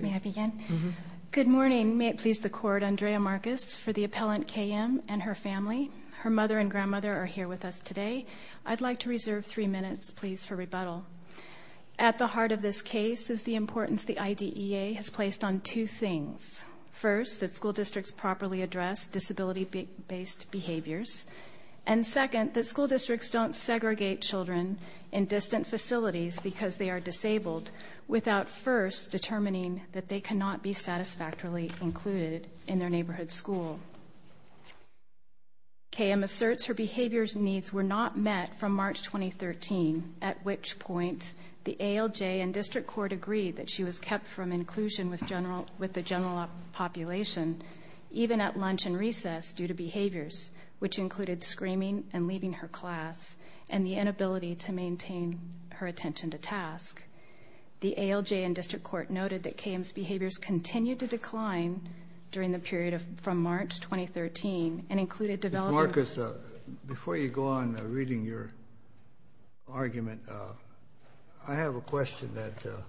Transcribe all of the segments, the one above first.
May I begin? Good morning. May it please the Court, Andrea Marcus for the appellant K.M. and her family. Her mother and grandmother are here with us today. I'd like to reserve three minutes, please, for rebuttal. At the heart of this case is the importance the IDEA has placed on two things. First, that school districts properly address disability-based behaviors. And second, that school districts don't segregate children in distant facilities because they are disabled without first determining that they cannot be satisfactorily included in their neighborhood school. K.M. asserts her behavior's needs were not met from March 2013, at which point the ALJ and District Court agreed that she was kept from inclusion with the general population, even at lunch and recess, due to behaviors, which included screaming and leaving her class, and the inability to maintain her attention to task. The ALJ and District Court noted that K.M.'s behaviors continued to decline during the period from March 2013 and included development... Ms. Marcus, before you go on reading your argument, I have a question that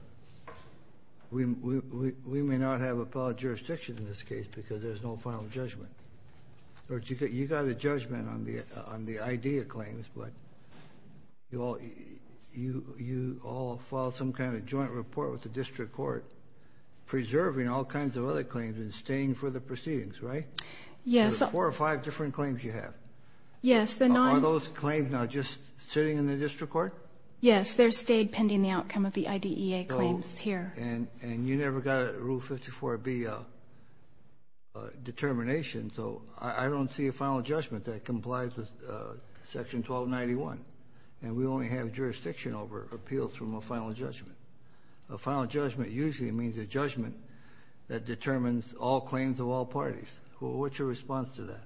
we may not have appellate jurisdiction in this case because there's no final judgment. You got a judgment on the IDEA claims, but you all filed some kind of joint report with the District Court, preserving all kinds of other claims and staying for the proceedings, right? Yes. There's four or five different claims you have. Yes, there stayed pending the outcome of the IDEA claims here. And you never got a Rule 54B determination, so I don't see a final judgment that complies with Section 1291, and we only have jurisdiction over appeals from a final judgment. A final judgment usually means a judgment that determines all claims of all parties. What's your response to that?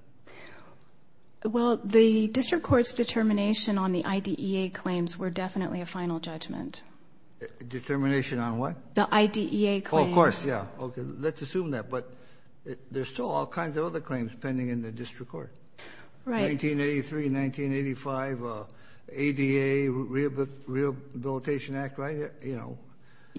Well, the District Court's determination on the IDEA claims were definitely a final judgment. Determination on what? The IDEA claims. Oh, of course, yeah. Okay, let's assume that, but there's still all kinds of other claims pending in the District Court. Right. 1983, 1985, ADA, Rehabilitation Act, right? You know...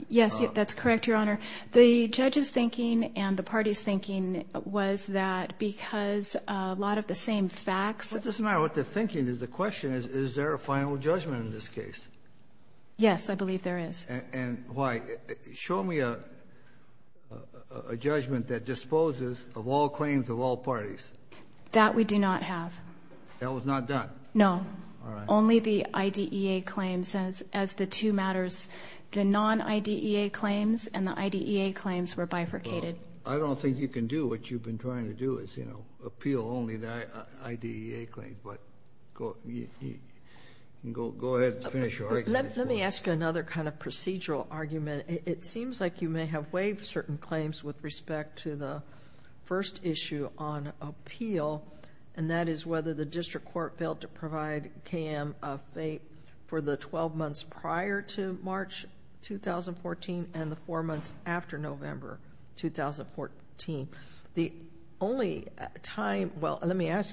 Yes, that's correct, Your Honor. The judge's thinking and the party's thinking was that because a lot of the same facts... It doesn't matter what they're thinking, the question is, is there a final judgment in this case? Yes, I believe there is. And why? Show me a judgment that disposes of all claims of all parties. That we do not have. That was not done? No. All right. Only the IDEA claims. As the two matters, the non-IDEA claims and the IDEA claims were bifurcated. I don't think you can do what you've been trying to do, is, you know, appeal only the IDEA claims. But go ahead and finish your argument. Let me ask you another kind of procedural argument. It seems like you may have waived certain claims with respect to the first issue on appeal, and that is whether the District Court failed to provide KM a fate for the 12 Let me ask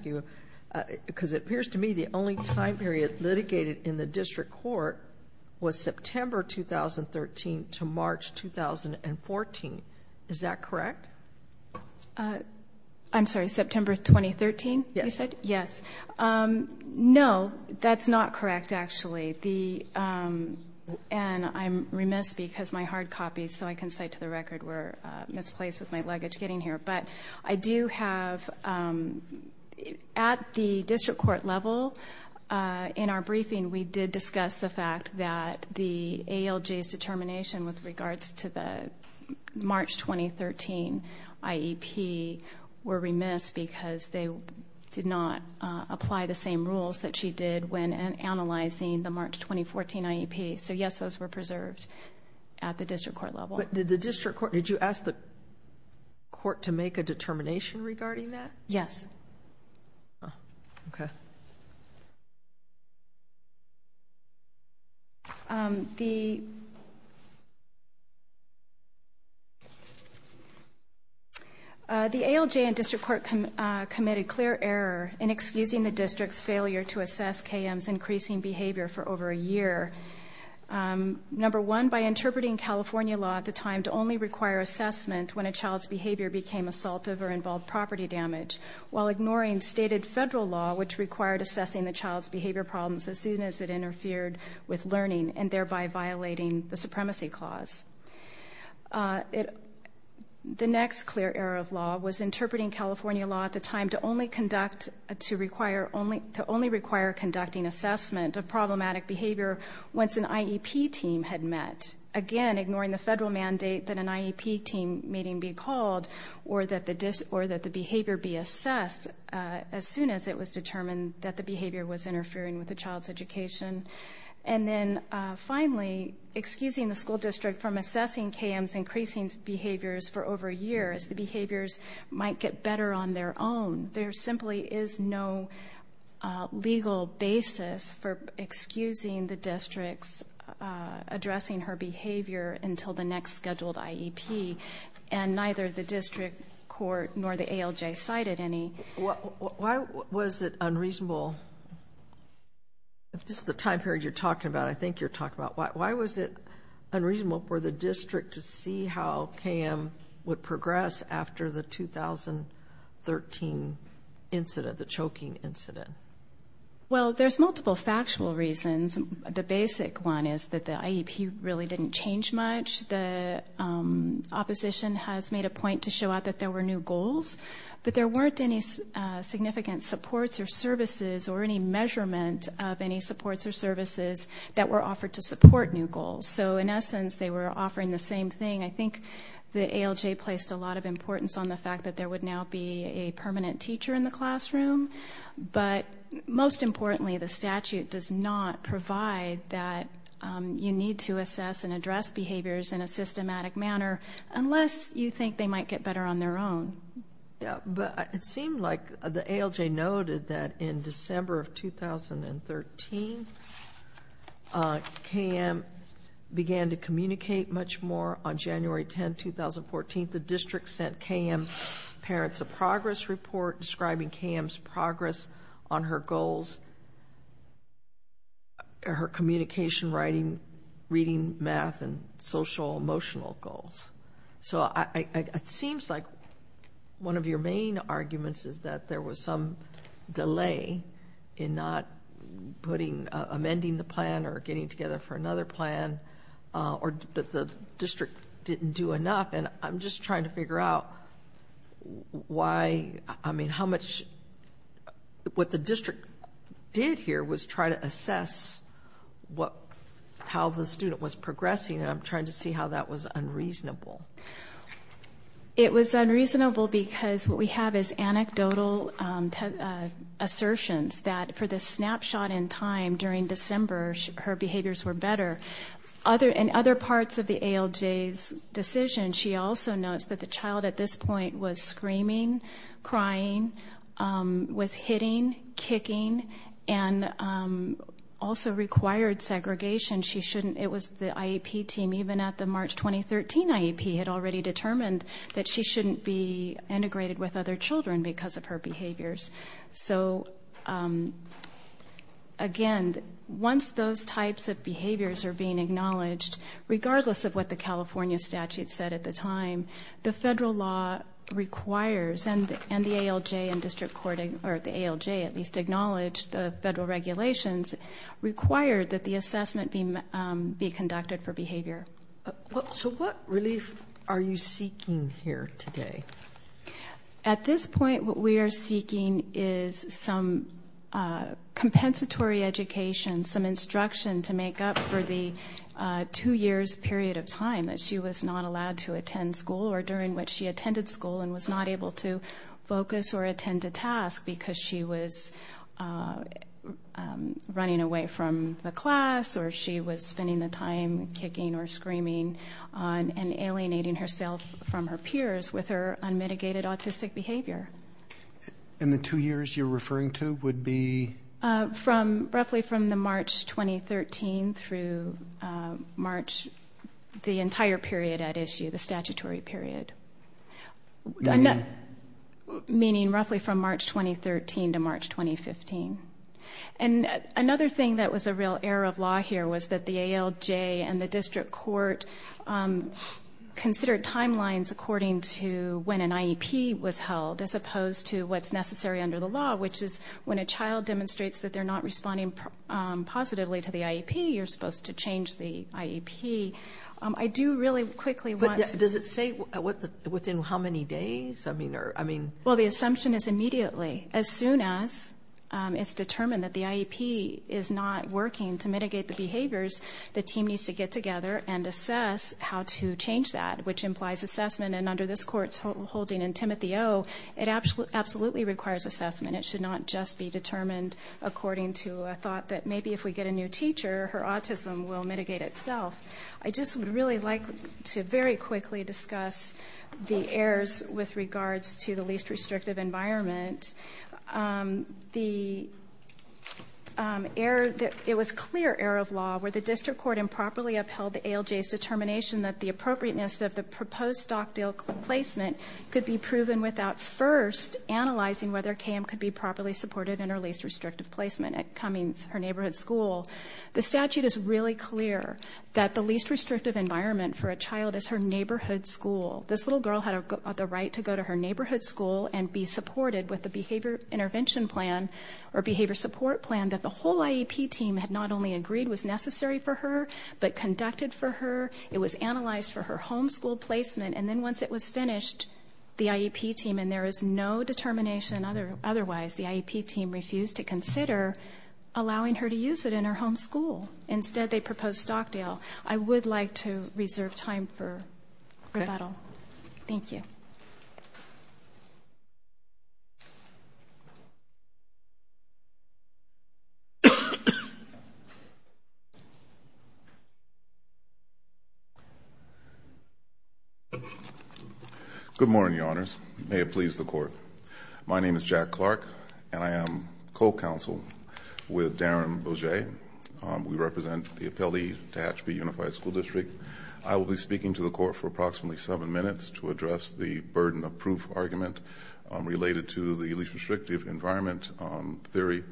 you, because it appears to me the only time period litigated in the District Court was September 2013 to March 2014. Is that correct? I'm sorry, September 2013, you said? Yes. No, that's not correct, actually. And I'm remiss because my hard copies, so I can cite to the At the District Court level, in our briefing, we did discuss the fact that the ALJ's determination with regards to the March 2013 IEP were remiss because they did not apply the same rules that she did when analyzing the March 2014 IEP. So yes, those were preserved at the District Court level. But did the District Court, did you ask the court to make a determination regarding that? Yes. Okay. The ALJ and District Court committed clear error in excusing the District's failure to assess KM's increasing behavior for over a year. Number one, by interpreting California law at the time to only require assessment when a child's behavior became assaultive or involved property damage, while ignoring stated federal law which required assessing the child's behavior problems as soon as it interfered with learning and thereby violating the Supremacy Clause. The next clear error of law was interpreting California law at the time to only require conducting assessment of problematic behavior once an IEP team had met, again ignoring the federal mandate that an IEP team meeting be called or that the behavior be assessed as soon as it was determined that the behavior was interfering with the child's education. And then finally, excusing the school district from assessing KM's increasing behaviors for over a year as the behaviors might get better on their own. There simply is no legal basis for excusing the District's addressing her behavior until the next scheduled IEP and neither the District Court nor the ALJ cited any. Why was it unreasonable, if this is the time period you're talking about, I think you're talking about, why was it unreasonable for the District to see how KM would progress after the 2013 incident, the choking incident? Well, there's multiple factual reasons. The basic one is that IEP really didn't change much. The opposition has made a point to show out that there were new goals but there weren't any significant supports or services or any measurement of any supports or services that were offered to support new goals. So in essence, they were offering the same thing. I think the ALJ placed a lot of importance on the fact that there would now be a permanent teacher in the classroom. But most importantly, the statute does not provide that you need to assess and address behaviors in a systematic manner unless you think they might get better on their own. Yeah, but it seemed like the ALJ noted that in December of 2013, KM began to communicate much more. On January 10, 2014, the District sent KM's progress report describing KM's progress on her goals, her communication, writing, reading, math, and social-emotional goals. So it seems like one of your main arguments is that there was some delay in not putting, amending the plan or getting together for another plan, or that the District didn't do enough. And I'm just trying to figure out why, I mean, how much, what the District did here was try to assess what, how the student was progressing, and I'm trying to see how that was unreasonable. It was unreasonable because what we have is anecdotal assertions that for the snapshot in time during December, her behaviors were better. In other parts of the ALJ's decision, she also notes that the child at this point was screaming, crying, was hitting, kicking, and also required segregation. She shouldn't, it was the IEP team, even at the March 2013 IEP, had already determined that she shouldn't be integrated with other children because of her behavior. Again, once those types of behaviors are being acknowledged, regardless of what the California statute said at the time, the federal law requires, and the ALJ and District Court, or the ALJ at least, acknowledged the federal regulations required that the assessment be conducted for behavior. So what relief are you seeking here today? At this point, what we are seeking is some compensatory education, some instruction to make up for the two years period of time that she was not allowed to attend school or during which she attended school and was not able to focus or attend a task because she was running away from the class or she was spending the time kicking or screaming and alienating herself from her peers with her unmitigated autistic behavior. And the two years you're referring to would be? From, roughly from the March 2013 through March, the entire period at issue, the statutory period, meaning roughly from March 2013 to March 2015. And another thing that was a real error of law here was that the ALJ and the District Court considered timelines according to when an IEP was held as opposed to what's necessary under the law, which is when a child demonstrates that they're not responding positively to the IEP, you're supposed to change the IEP. I do really quickly want to... Does it say what, within how many days? I mean, or, I mean... Well, the assumption is immediately. As soon as it's determined that the IEP is not working to get together and assess how to change that, which implies assessment, and under this Court's holding in Timothy O., it absolutely requires assessment. It should not just be determined according to a thought that maybe if we get a new teacher, her autism will mitigate itself. I just would really like to very quickly discuss the errors with regards to the least restrictive environment. It was clear error of law where the District Court improperly upheld the ALJ's determination that the appropriateness of the proposed stock deal placement could be proven without first analyzing whether KM could be properly supported in her least restrictive placement at Cummings, her neighborhood school. The statute is really clear that the least restrictive environment for a child is her neighborhood school. This little girl had the right to go to her neighborhood school and be supported with the behavior intervention plan or behavior support plan that the whole IEP team had not only agreed was necessary for her, but conducted for her. It was analyzed for her home school placement, and then once it was finished, the IEP team, and there is no determination otherwise, the IEP team refused to consider allowing her to use it in her home school. Instead, they proposed stock deal. I would like to reserve time for rebuttal. Thank you. Good morning, Your Honors. May it please the Court. My name is Jack Clark, and I am co-counsel with Darren Bogey. We represent the appellee to Hatchview Unified School District. I will be speaking to the Court for approximately seven minutes to address the burden of proof argument related to the least restrictive environment theory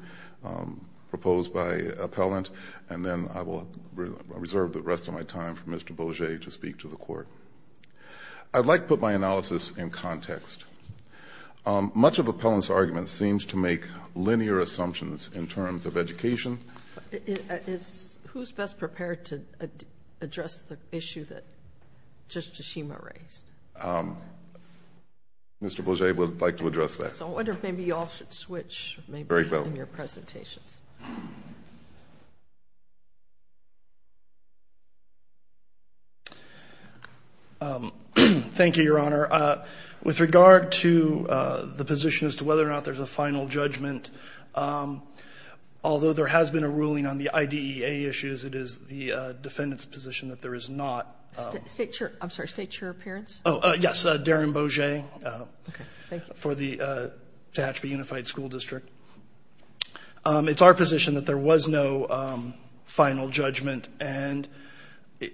proposed by Appellant, and then I will reserve the rest of my time for Mr. Bogey to speak to the Court. I'd like to put my analysis in context. Much of Appellant's argument seems to make linear assumptions in terms of education. Who's best prepared to address the issue that Justice Schema raised? Mr. Bogey would like to address that. I wonder if maybe you all should switch in your presentations. Thank you, Your Honor. With regard to the position as to whether or not there's a final judgment, although there has been a ruling on the IDEA issues, it is the defendant's position that there is not. State your appearance. Yes, Darren Bogey for the Hatchview Unified School District. It's our position that there was no final judgment, and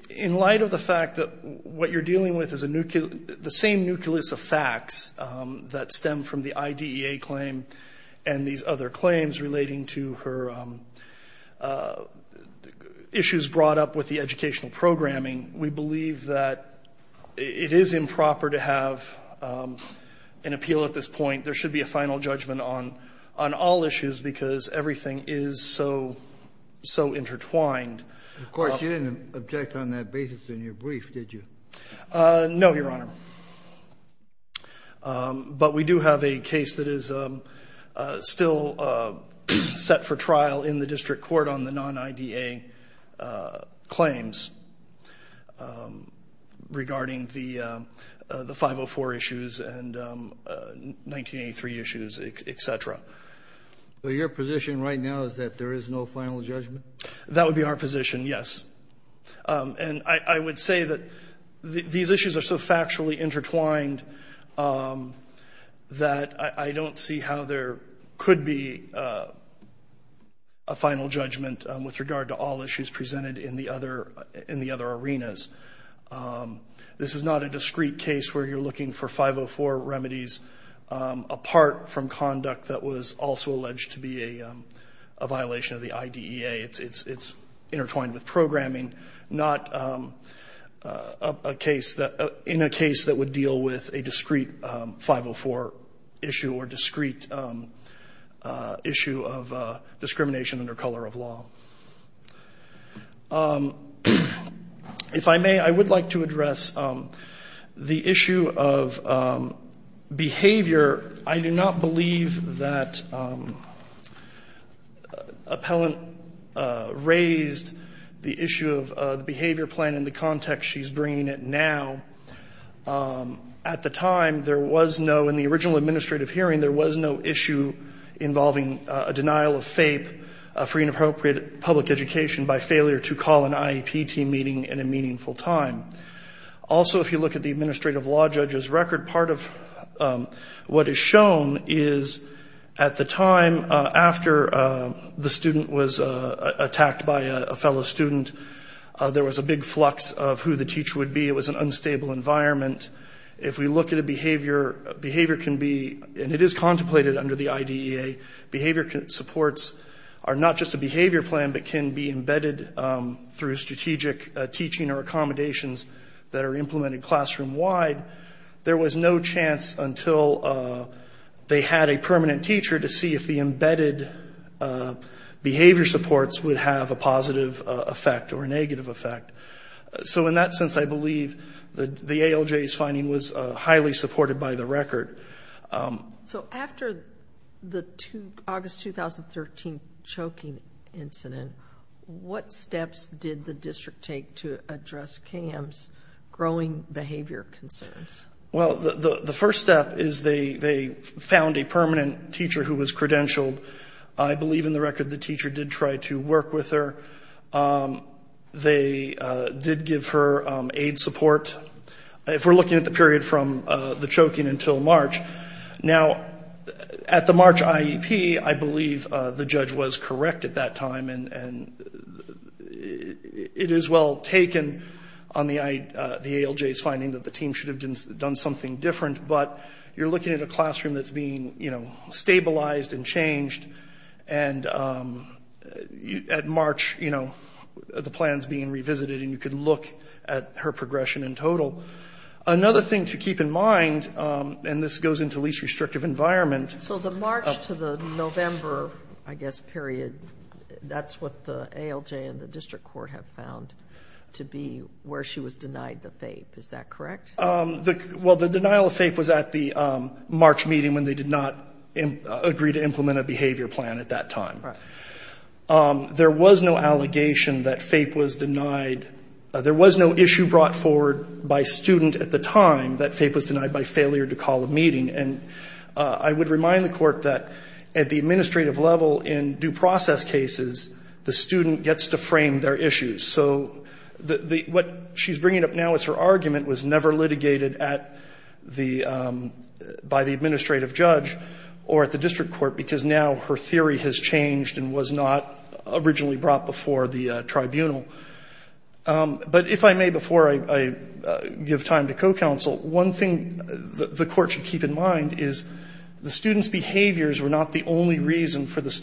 in light of the fact that what you're dealing with is the same nucleus of facts that stem from the IDEA claim and these other claims relating to her issues brought up with the educational programming, we believe that it is improper to have an appeal at this point. There should be a final judgment on all issues because everything is so intertwined. Of course, you didn't object on that basis in your brief, did you? No, Your Honor. But we do have a case that is still set for trial in the district court on the non-IDEA claims regarding the 504 issues and 1983 issues, etc. So your position right now is that there is no final judgment? That would be our position, yes. And I would say that these issues are so factually intertwined that I don't see how there could be a final judgment with regard to all issues presented in the other arenas. This is not a discrete case where you're looking for 504 of the IDEA. It's intertwined with programming, not in a case that would deal with a discrete 504 issue or discrete issue of discrimination under color of law. If I may, I would like to address the issue of behavior. I do not believe that appellant raised the issue of the behavior plan in the context she's bringing it now. At the time, there was no, in the original administrative hearing, there was no issue involving a denial of FAPE for inappropriate public education by failure to call an IEP team meeting in a meaningful time. Also, if you look at the administrative law judge's record, part of what is shown is at the time after the student was attacked by a fellow student, there was a big flux of who the teacher would be. It was an unstable environment. If we look at a behavior, behavior can be, and it is contemplated under the IDEA, behavior supports are not just a behavior plan but can be embedded through strategic teaching or until they had a permanent teacher to see if the embedded behavior supports would have a positive effect or negative effect. In that sense, I believe the ALJ's finding was highly supported by the record. After the August 2013 choking incident, what steps did the district take to they found a permanent teacher who was credentialed. I believe in the record the teacher did try to work with her. They did give her aid support. If we're looking at the period from the choking until March, now, at the March IEP, I believe the judge was correct at that time and it is well taken on the ALJ's finding that the team should have done something different, but you're looking at a classroom that's being stabilized and changed. At March, the plan is being revisited and you can look at her progression in total. Another thing to keep in mind, and this goes into least restrictive environment. So the March to the November, I guess, period, that's what the ALJ and the district court have found to be where she was denied the FAPE. Is that correct? Well, the denial of FAPE was at the March meeting when they did not agree to implement a behavior plan at that time. There was no allegation that FAPE was denied. There was no issue brought forward by student at the time that FAPE was denied by failure to call a meeting. And I would remind the court that at the administrative level in due process cases, the student gets to frame their issues. So what she's bringing up now is her argument was never litigated by the administrative judge or at the district court because now her theory has changed and was not originally brought before the tribunal. But if I may, before I give time to co-counsel, one thing the court should keep in mind is the student's behaviors were not the only reason for the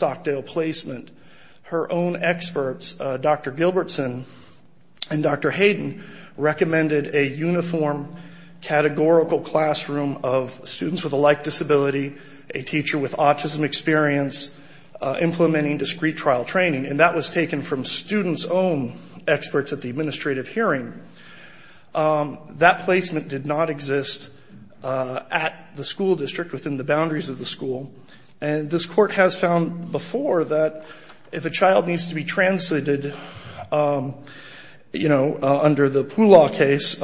and Dr. Hayden recommended a uniform categorical classroom of students with a like disability, a teacher with autism experience, implementing discrete trial training. And that was taken from students' own experts at the administrative hearing. That placement did not exist at the school district within the boundaries of the school. And this court has found before that if a child needs to be translated, you know, under the Poolaw case,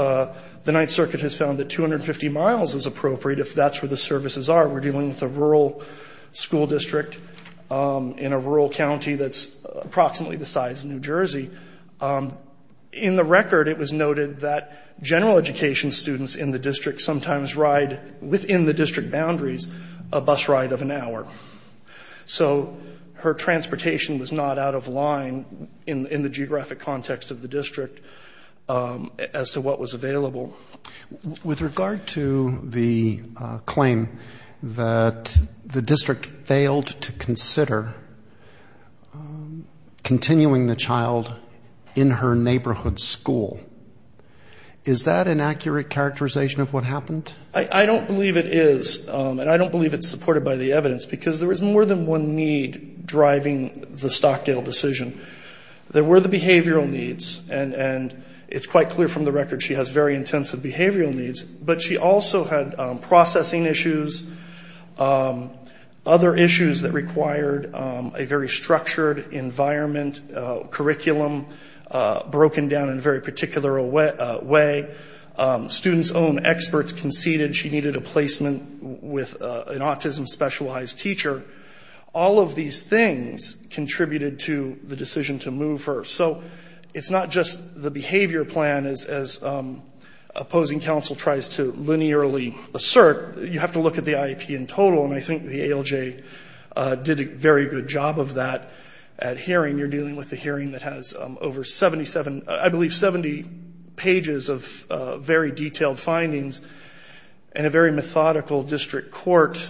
the Ninth Circuit has found that 250 miles is appropriate if that's where the services are. We're dealing with a rural school district in a rural county that's approximately the size of New Jersey. In the record, it was noted that general education students in the district sometimes ride within the district boundaries a bus ride of an hour. So her transportation was not out of line in the geographic context of the district as to what was available. With regard to the claim that the district failed to consider continuing the child in her neighborhood school, is that an accurate characterization of what happened? I don't believe it is and I don't believe it's supported by the evidence because there is more than one need driving the Stockdale decision. There were the behavioral needs and it's quite clear from the record she has very intensive behavioral needs, but she also had processing issues, other issues that required a very structured environment, curriculum broken down in a very particular way. Students' own experts conceded she needed a placement with an autism-specialized teacher. All of these things contributed to the decision to move her. So it's not just the behavior plan as opposing counsel tries to linearly assert. You have to look at the IEP in total and I think the ALJ did a very good job of that at hearing. You're dealing with a hearing that has over 77, I believe 70 pages of very detailed findings and a very methodical district court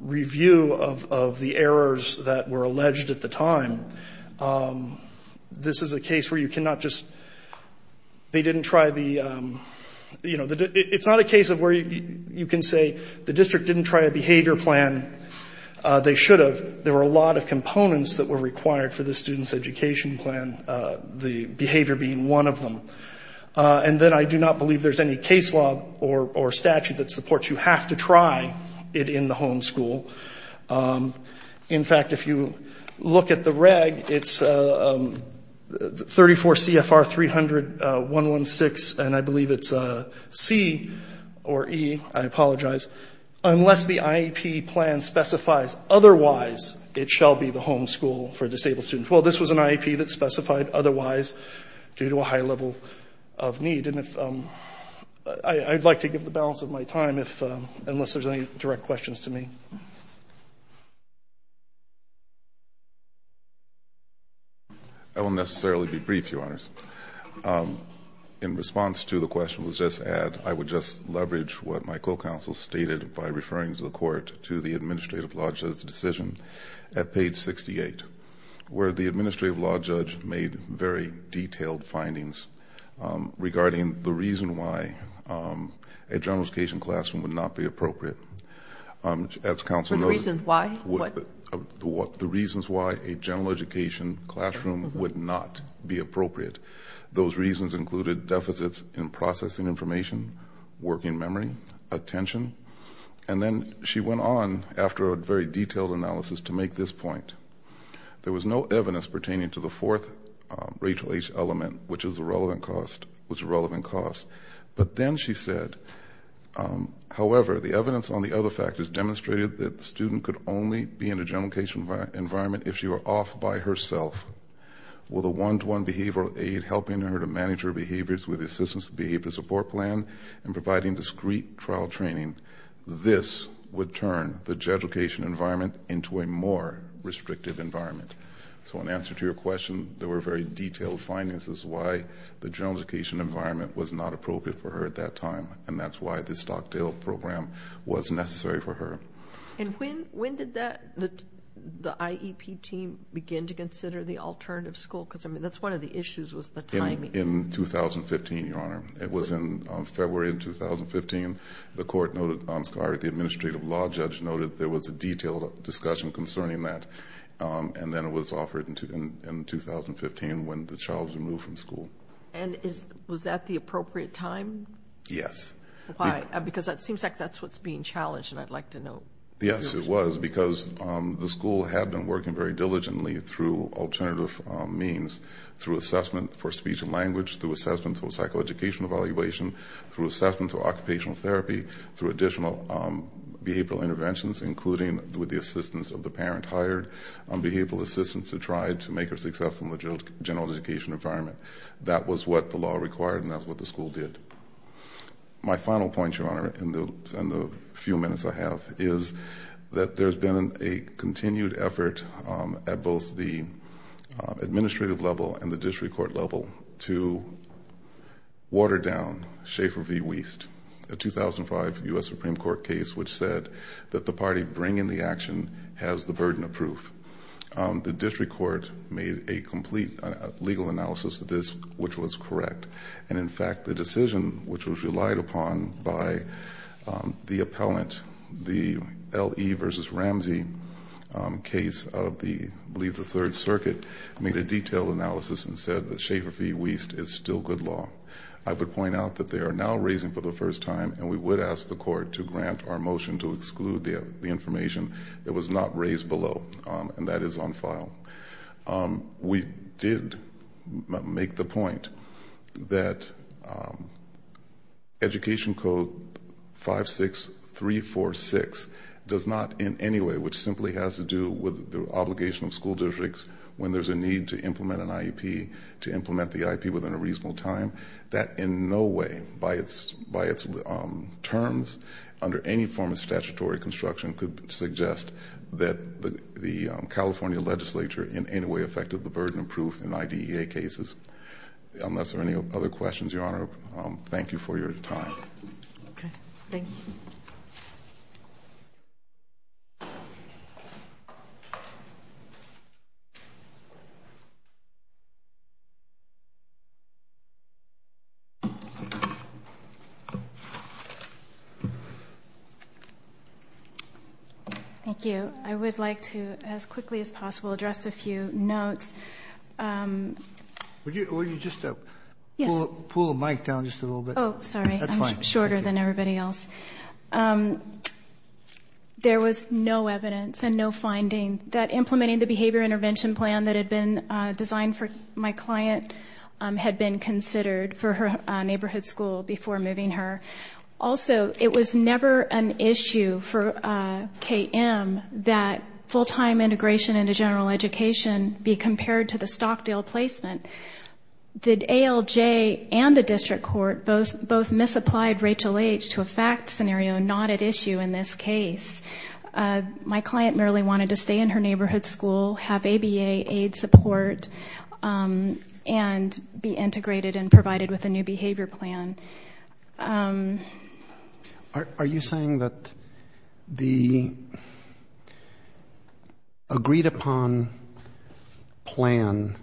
review of the errors that were alleged at the time. This is a case where you cannot just, they didn't try the, you know, it's not a case of where you can say the district didn't try a behavior plan. They should have. There were a lot of components that were required for the student's education plan, the behavior being one of them. And then I do not believe there's any case law or statute that supports you have to try it in the home school. In fact, if you look at the reg, it's 34 CFR 300-116 and I believe it's C or E, I apologize, unless the IEP plan specifies otherwise it shall be the home school for disabled students. Well, this was an IEP that specified otherwise due to a high level of need. And if, I'd like to give the balance of my time if, unless there's any direct questions to me. I won't necessarily be brief, Your Honors. In response to the question was just add, I would just leverage what my co-counsel stated by referring to the court to the administrative law judge's decision at page 68, where the administrative law judge made very detailed findings regarding the reason why a general education classroom would not be appropriate. As counsel noted, the reasons why a general education classroom would not be appropriate. Those reasons included deficits in processing information, working memory, attention. And then she went on after a very detailed analysis to make this point. There was no evidence pertaining to the fourth Rachel H. element, which was a relevant cost. But then she said, however, the evidence on the other factors demonstrated that the student could only be in a general environment if she were off by herself with a one-to-one behavioral aid, helping her to manage her behaviors with assistance, behavioral support plan, and providing discrete trial training. This would turn the general education environment into a more restrictive environment. So in answer to your question, there were very detailed findings as to why the general education environment was not appropriate for her at that time. And that's why the Stockdale program was necessary for her. And when did the IEP team begin to consider the alternative school? Because I mean, that's one of the issues, was the timing. In 2015, Your Honor. It was in February of 2015. The administrative law judge noted there was a detailed discussion concerning that. And then it was offered in 2015 when the child was removed from school. And was that the appropriate time? Yes. Why? Because it seems like that's what's being challenged, and I'd like to know. Yes, it was, because the school had been working very diligently through alternative means, through assessment for speech and language, through assessment for psychoeducational evaluation, through assessment for occupational therapy, through additional behavioral interventions, including with the assistance of the parent hired, behavioral assistants who tried to make her successful in the general education environment. That was what the law required, and that's what the school did. My final point, Your Honor, in the few minutes I have, is that there's been a continued effort at both the administrative level and the district court level to water down Schaefer v. Wiest, a 2005 U.S. Supreme Court case which said that the party bringing the action has the burden of proof. The district court made a complete legal analysis of this, which was correct. And in fact, the decision which was relied upon by the appellant, the L.E. v. Ramsey case of the, I believe the Third Circuit, made a detailed analysis and said that Schaefer v. Wiest is still good law. I would point out that they are now for the first time, and we would ask the court to grant our motion to exclude the information that was not raised below, and that is on file. We did make the point that Education Code 56346 does not in any way, which simply has to do with the obligation of school districts when there's a need to implement an IEP, to implement the IEP within a reasonable time, that in no way, by its terms, under any form of statutory construction could suggest that the California legislature in any way affected the burden of proof in IDEA cases. Unless there are any other questions, Your Honor, thank you for your time. Okay, thank you. Thank you. I would like to, as quickly as possible, address a few notes. Would you just pull the mic down just a little bit? Oh, sorry. I'm shorter than everybody else. There was no evidence and no finding that implementing the behavior intervention plan designed for my client had been considered for her neighborhood school before moving her. Also, it was never an issue for KM that full-time integration into general education be compared to the Stockdale placement. The ALJ and the district court both misapplied Rachel H. to a fact scenario not at issue in this case. My client merely wanted to stay in her neighborhood school, have ABA aid support, and be integrated and provided with a new behavior plan. Are you saying that the agreed-upon plan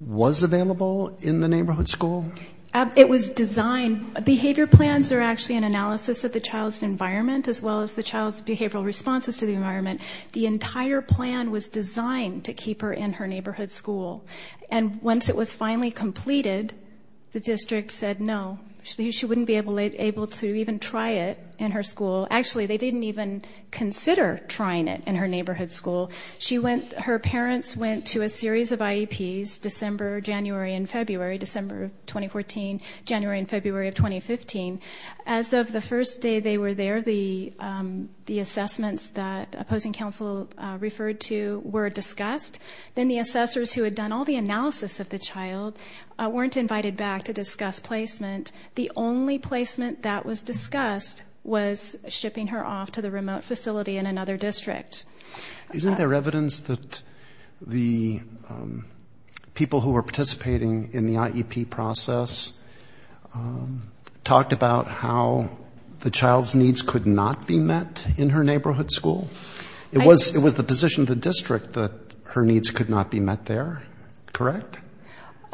was available in the neighborhood school? It was designed. Behavior plans are actually an analysis of the child's environment as well as child's behavioral responses to the environment. The entire plan was designed to keep her in her neighborhood school. And once it was finally completed, the district said no. She wouldn't be able to even try it in her school. Actually, they didn't even consider trying it in her neighborhood school. Her parents went to a series of IEPs, December, January, and February, December of 2014, January and February of 2015. As of the first day they were there, the assessments that opposing counsel referred to were discussed. Then the assessors who had done all the analysis of the child weren't invited back to discuss placement. The only placement that was discussed was shipping her off to the remote facility in another district. Isn't there evidence that the people who were involved in that process talked about how the child's needs could not be met in her neighborhood school? It was the position of the district that her needs could not be met there, correct?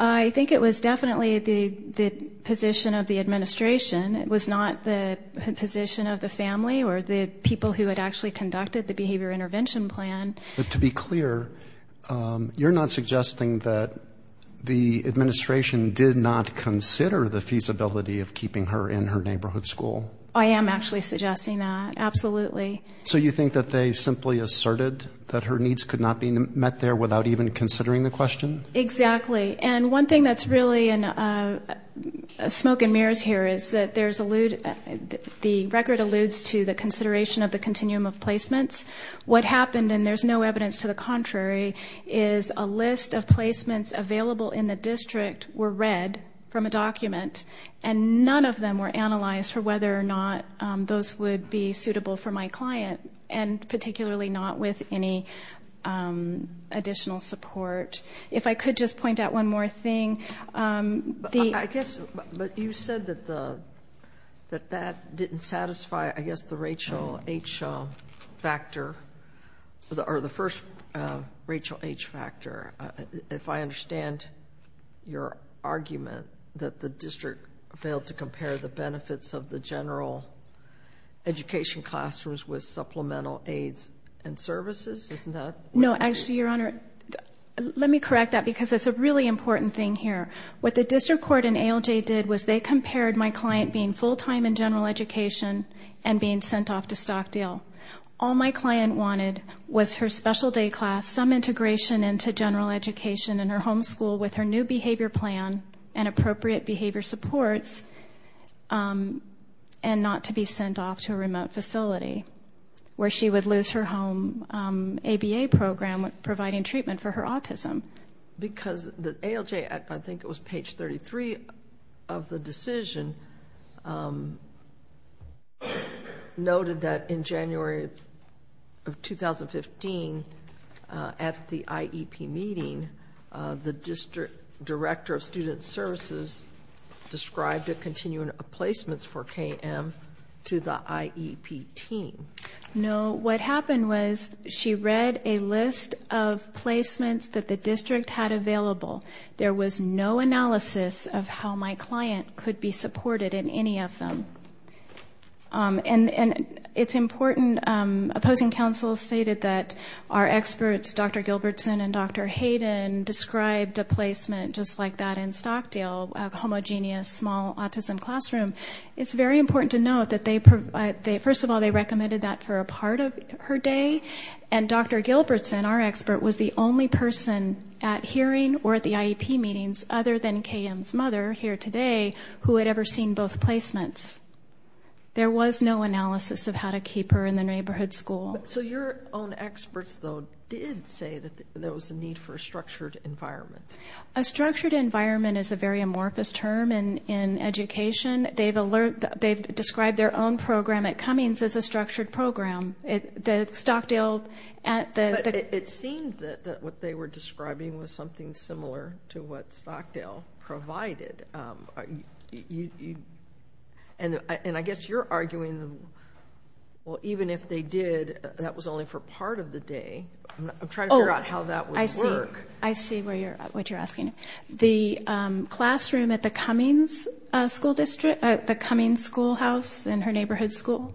I think it was definitely the position of the administration. It was not the position of the family or the people who had actually conducted the behavior intervention plan. To be clear, you're not suggesting that the administration did not consider the feasibility of keeping her in her neighborhood school? I am actually suggesting that, absolutely. So you think that they simply asserted that her needs could not be met there without even considering the question? Exactly. And one thing that's really in smoke and mirrors here is that the record alludes to the contrary, is a list of placements available in the district were read from a document and none of them were analyzed for whether or not those would be suitable for my client, and particularly not with any additional support. If I could just point out one more thing. But you said that that didn't satisfy, I guess, the Rachel H. factor, or the first Rachel H. factor. If I understand your argument, that the district failed to compare the benefits of the general education classrooms with supplemental aids and services? No, actually, Your Honor, let me correct that because it's a really important thing here. What the district court and ALJ did was they compared my client being full-time in general education and being sent off to Stockdale. All my client wanted was her special day class, some integration into general education in her home school with her new behavior plan and appropriate behavior supports, and not to be sent off to a remote facility where she would lose her home ABA program providing treatment for her autism. Because ALJ, I think it was page 33 of the decision, noted that in January of 2015 at the IEP meeting, the district director of student services described a continuum of placements for KM to the IEP team. No, what happened was she read a list of placements that the district had available. There was no analysis of how my client could be supported in any of them. And it's important, opposing counsel stated that our experts, Dr. Gilbertson and Dr. Hayden, described a placement just like that in Stockdale, a homogeneous small autism classroom. It's very important to note that they, first of all, they recommended that for a part of her day. And Dr. Gilbertson, our expert, was the only person at hearing or at the IEP meetings other than KM's mother here today who had ever seen both placements. There was no analysis of how to keep her in the neighborhood school. So your own experts, though, did say that there was a need for a structured environment. A structured environment is a very amorphous term in education. They've described their own program at Cummings as a structured program. The Stockdale at the- But it seemed that what they were describing was something similar to what Stockdale provided. And I guess you're arguing, well, even if they did, that was only for part of the day. I'm trying to figure out how that would work. Oh, I see. I see what you're asking. The classroom at the Cummings School House in her neighborhood school,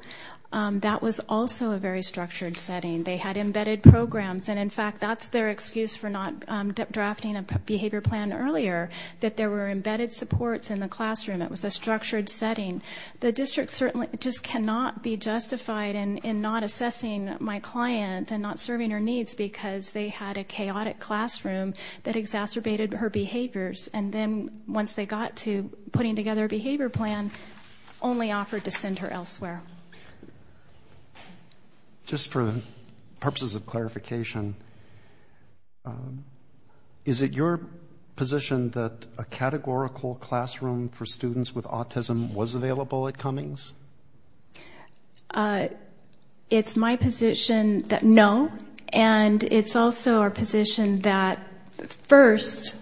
that was also a very structured setting. They had embedded programs. And, in fact, that's their excuse for not drafting a behavior plan earlier, that there were embedded supports in the classroom. It was a structured setting. The district certainly just cannot be justified in not assessing my client and not serving her needs because they had a chaotic classroom that exacerbated her behaviors. And then once they got to putting together a behavior plan, only offered to send her elsewhere. Just for purposes of clarification, is it your position that a categorical classroom for students with autism was available at Cummings? It's my position that no. And it's also our position that, first,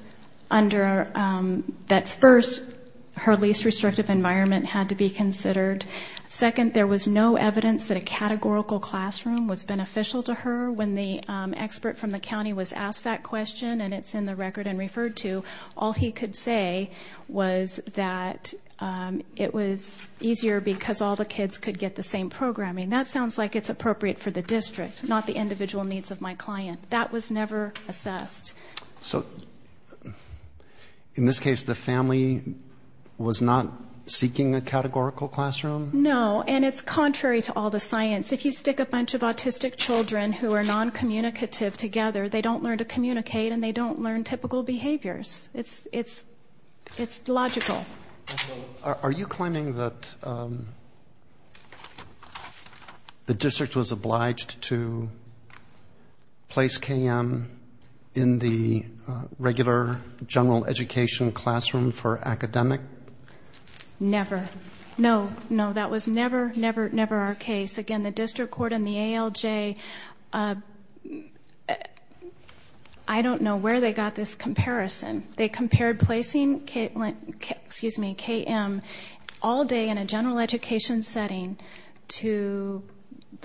her least restrictive environment had to be considered. Second, there was no evidence that a categorical classroom was beneficial to her. When the expert from the county was asked that question, and it's in the record and referred to, all he could say was that it was easier because all the kids could get the same programming. That sounds like it's appropriate for the district, not the individual needs of my client. That was never assessed. So, in this case, the family was not seeking a categorical classroom? No. And it's contrary to all the science. If you stick a bunch of autistic children who are noncommunicative together, they don't learn to communicate and they don't learn typical behaviors. It's logical. Are you claiming that the district was obliged to place KM in the regular general education classroom for academic? Never. No, no, that was never, never, never our case. Again, the district court and the ALJ, I don't know where they got this comparison. They compared placing KM all day in a general education setting to,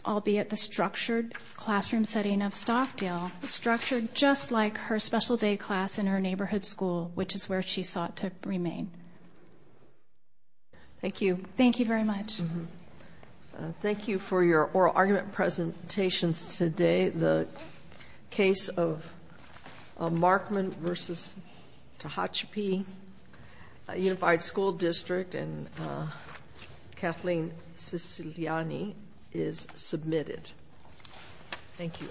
albeit the structured classroom setting of Stockdale, structured just like her special day class in her neighborhood school, which is where she sought to remain. Thank you. Thank you very much. Thank you for your oral argument presentations today. The case of Markman v. Tehachapi Unified School District and Kathleen Siciliani is submitted. Thank you.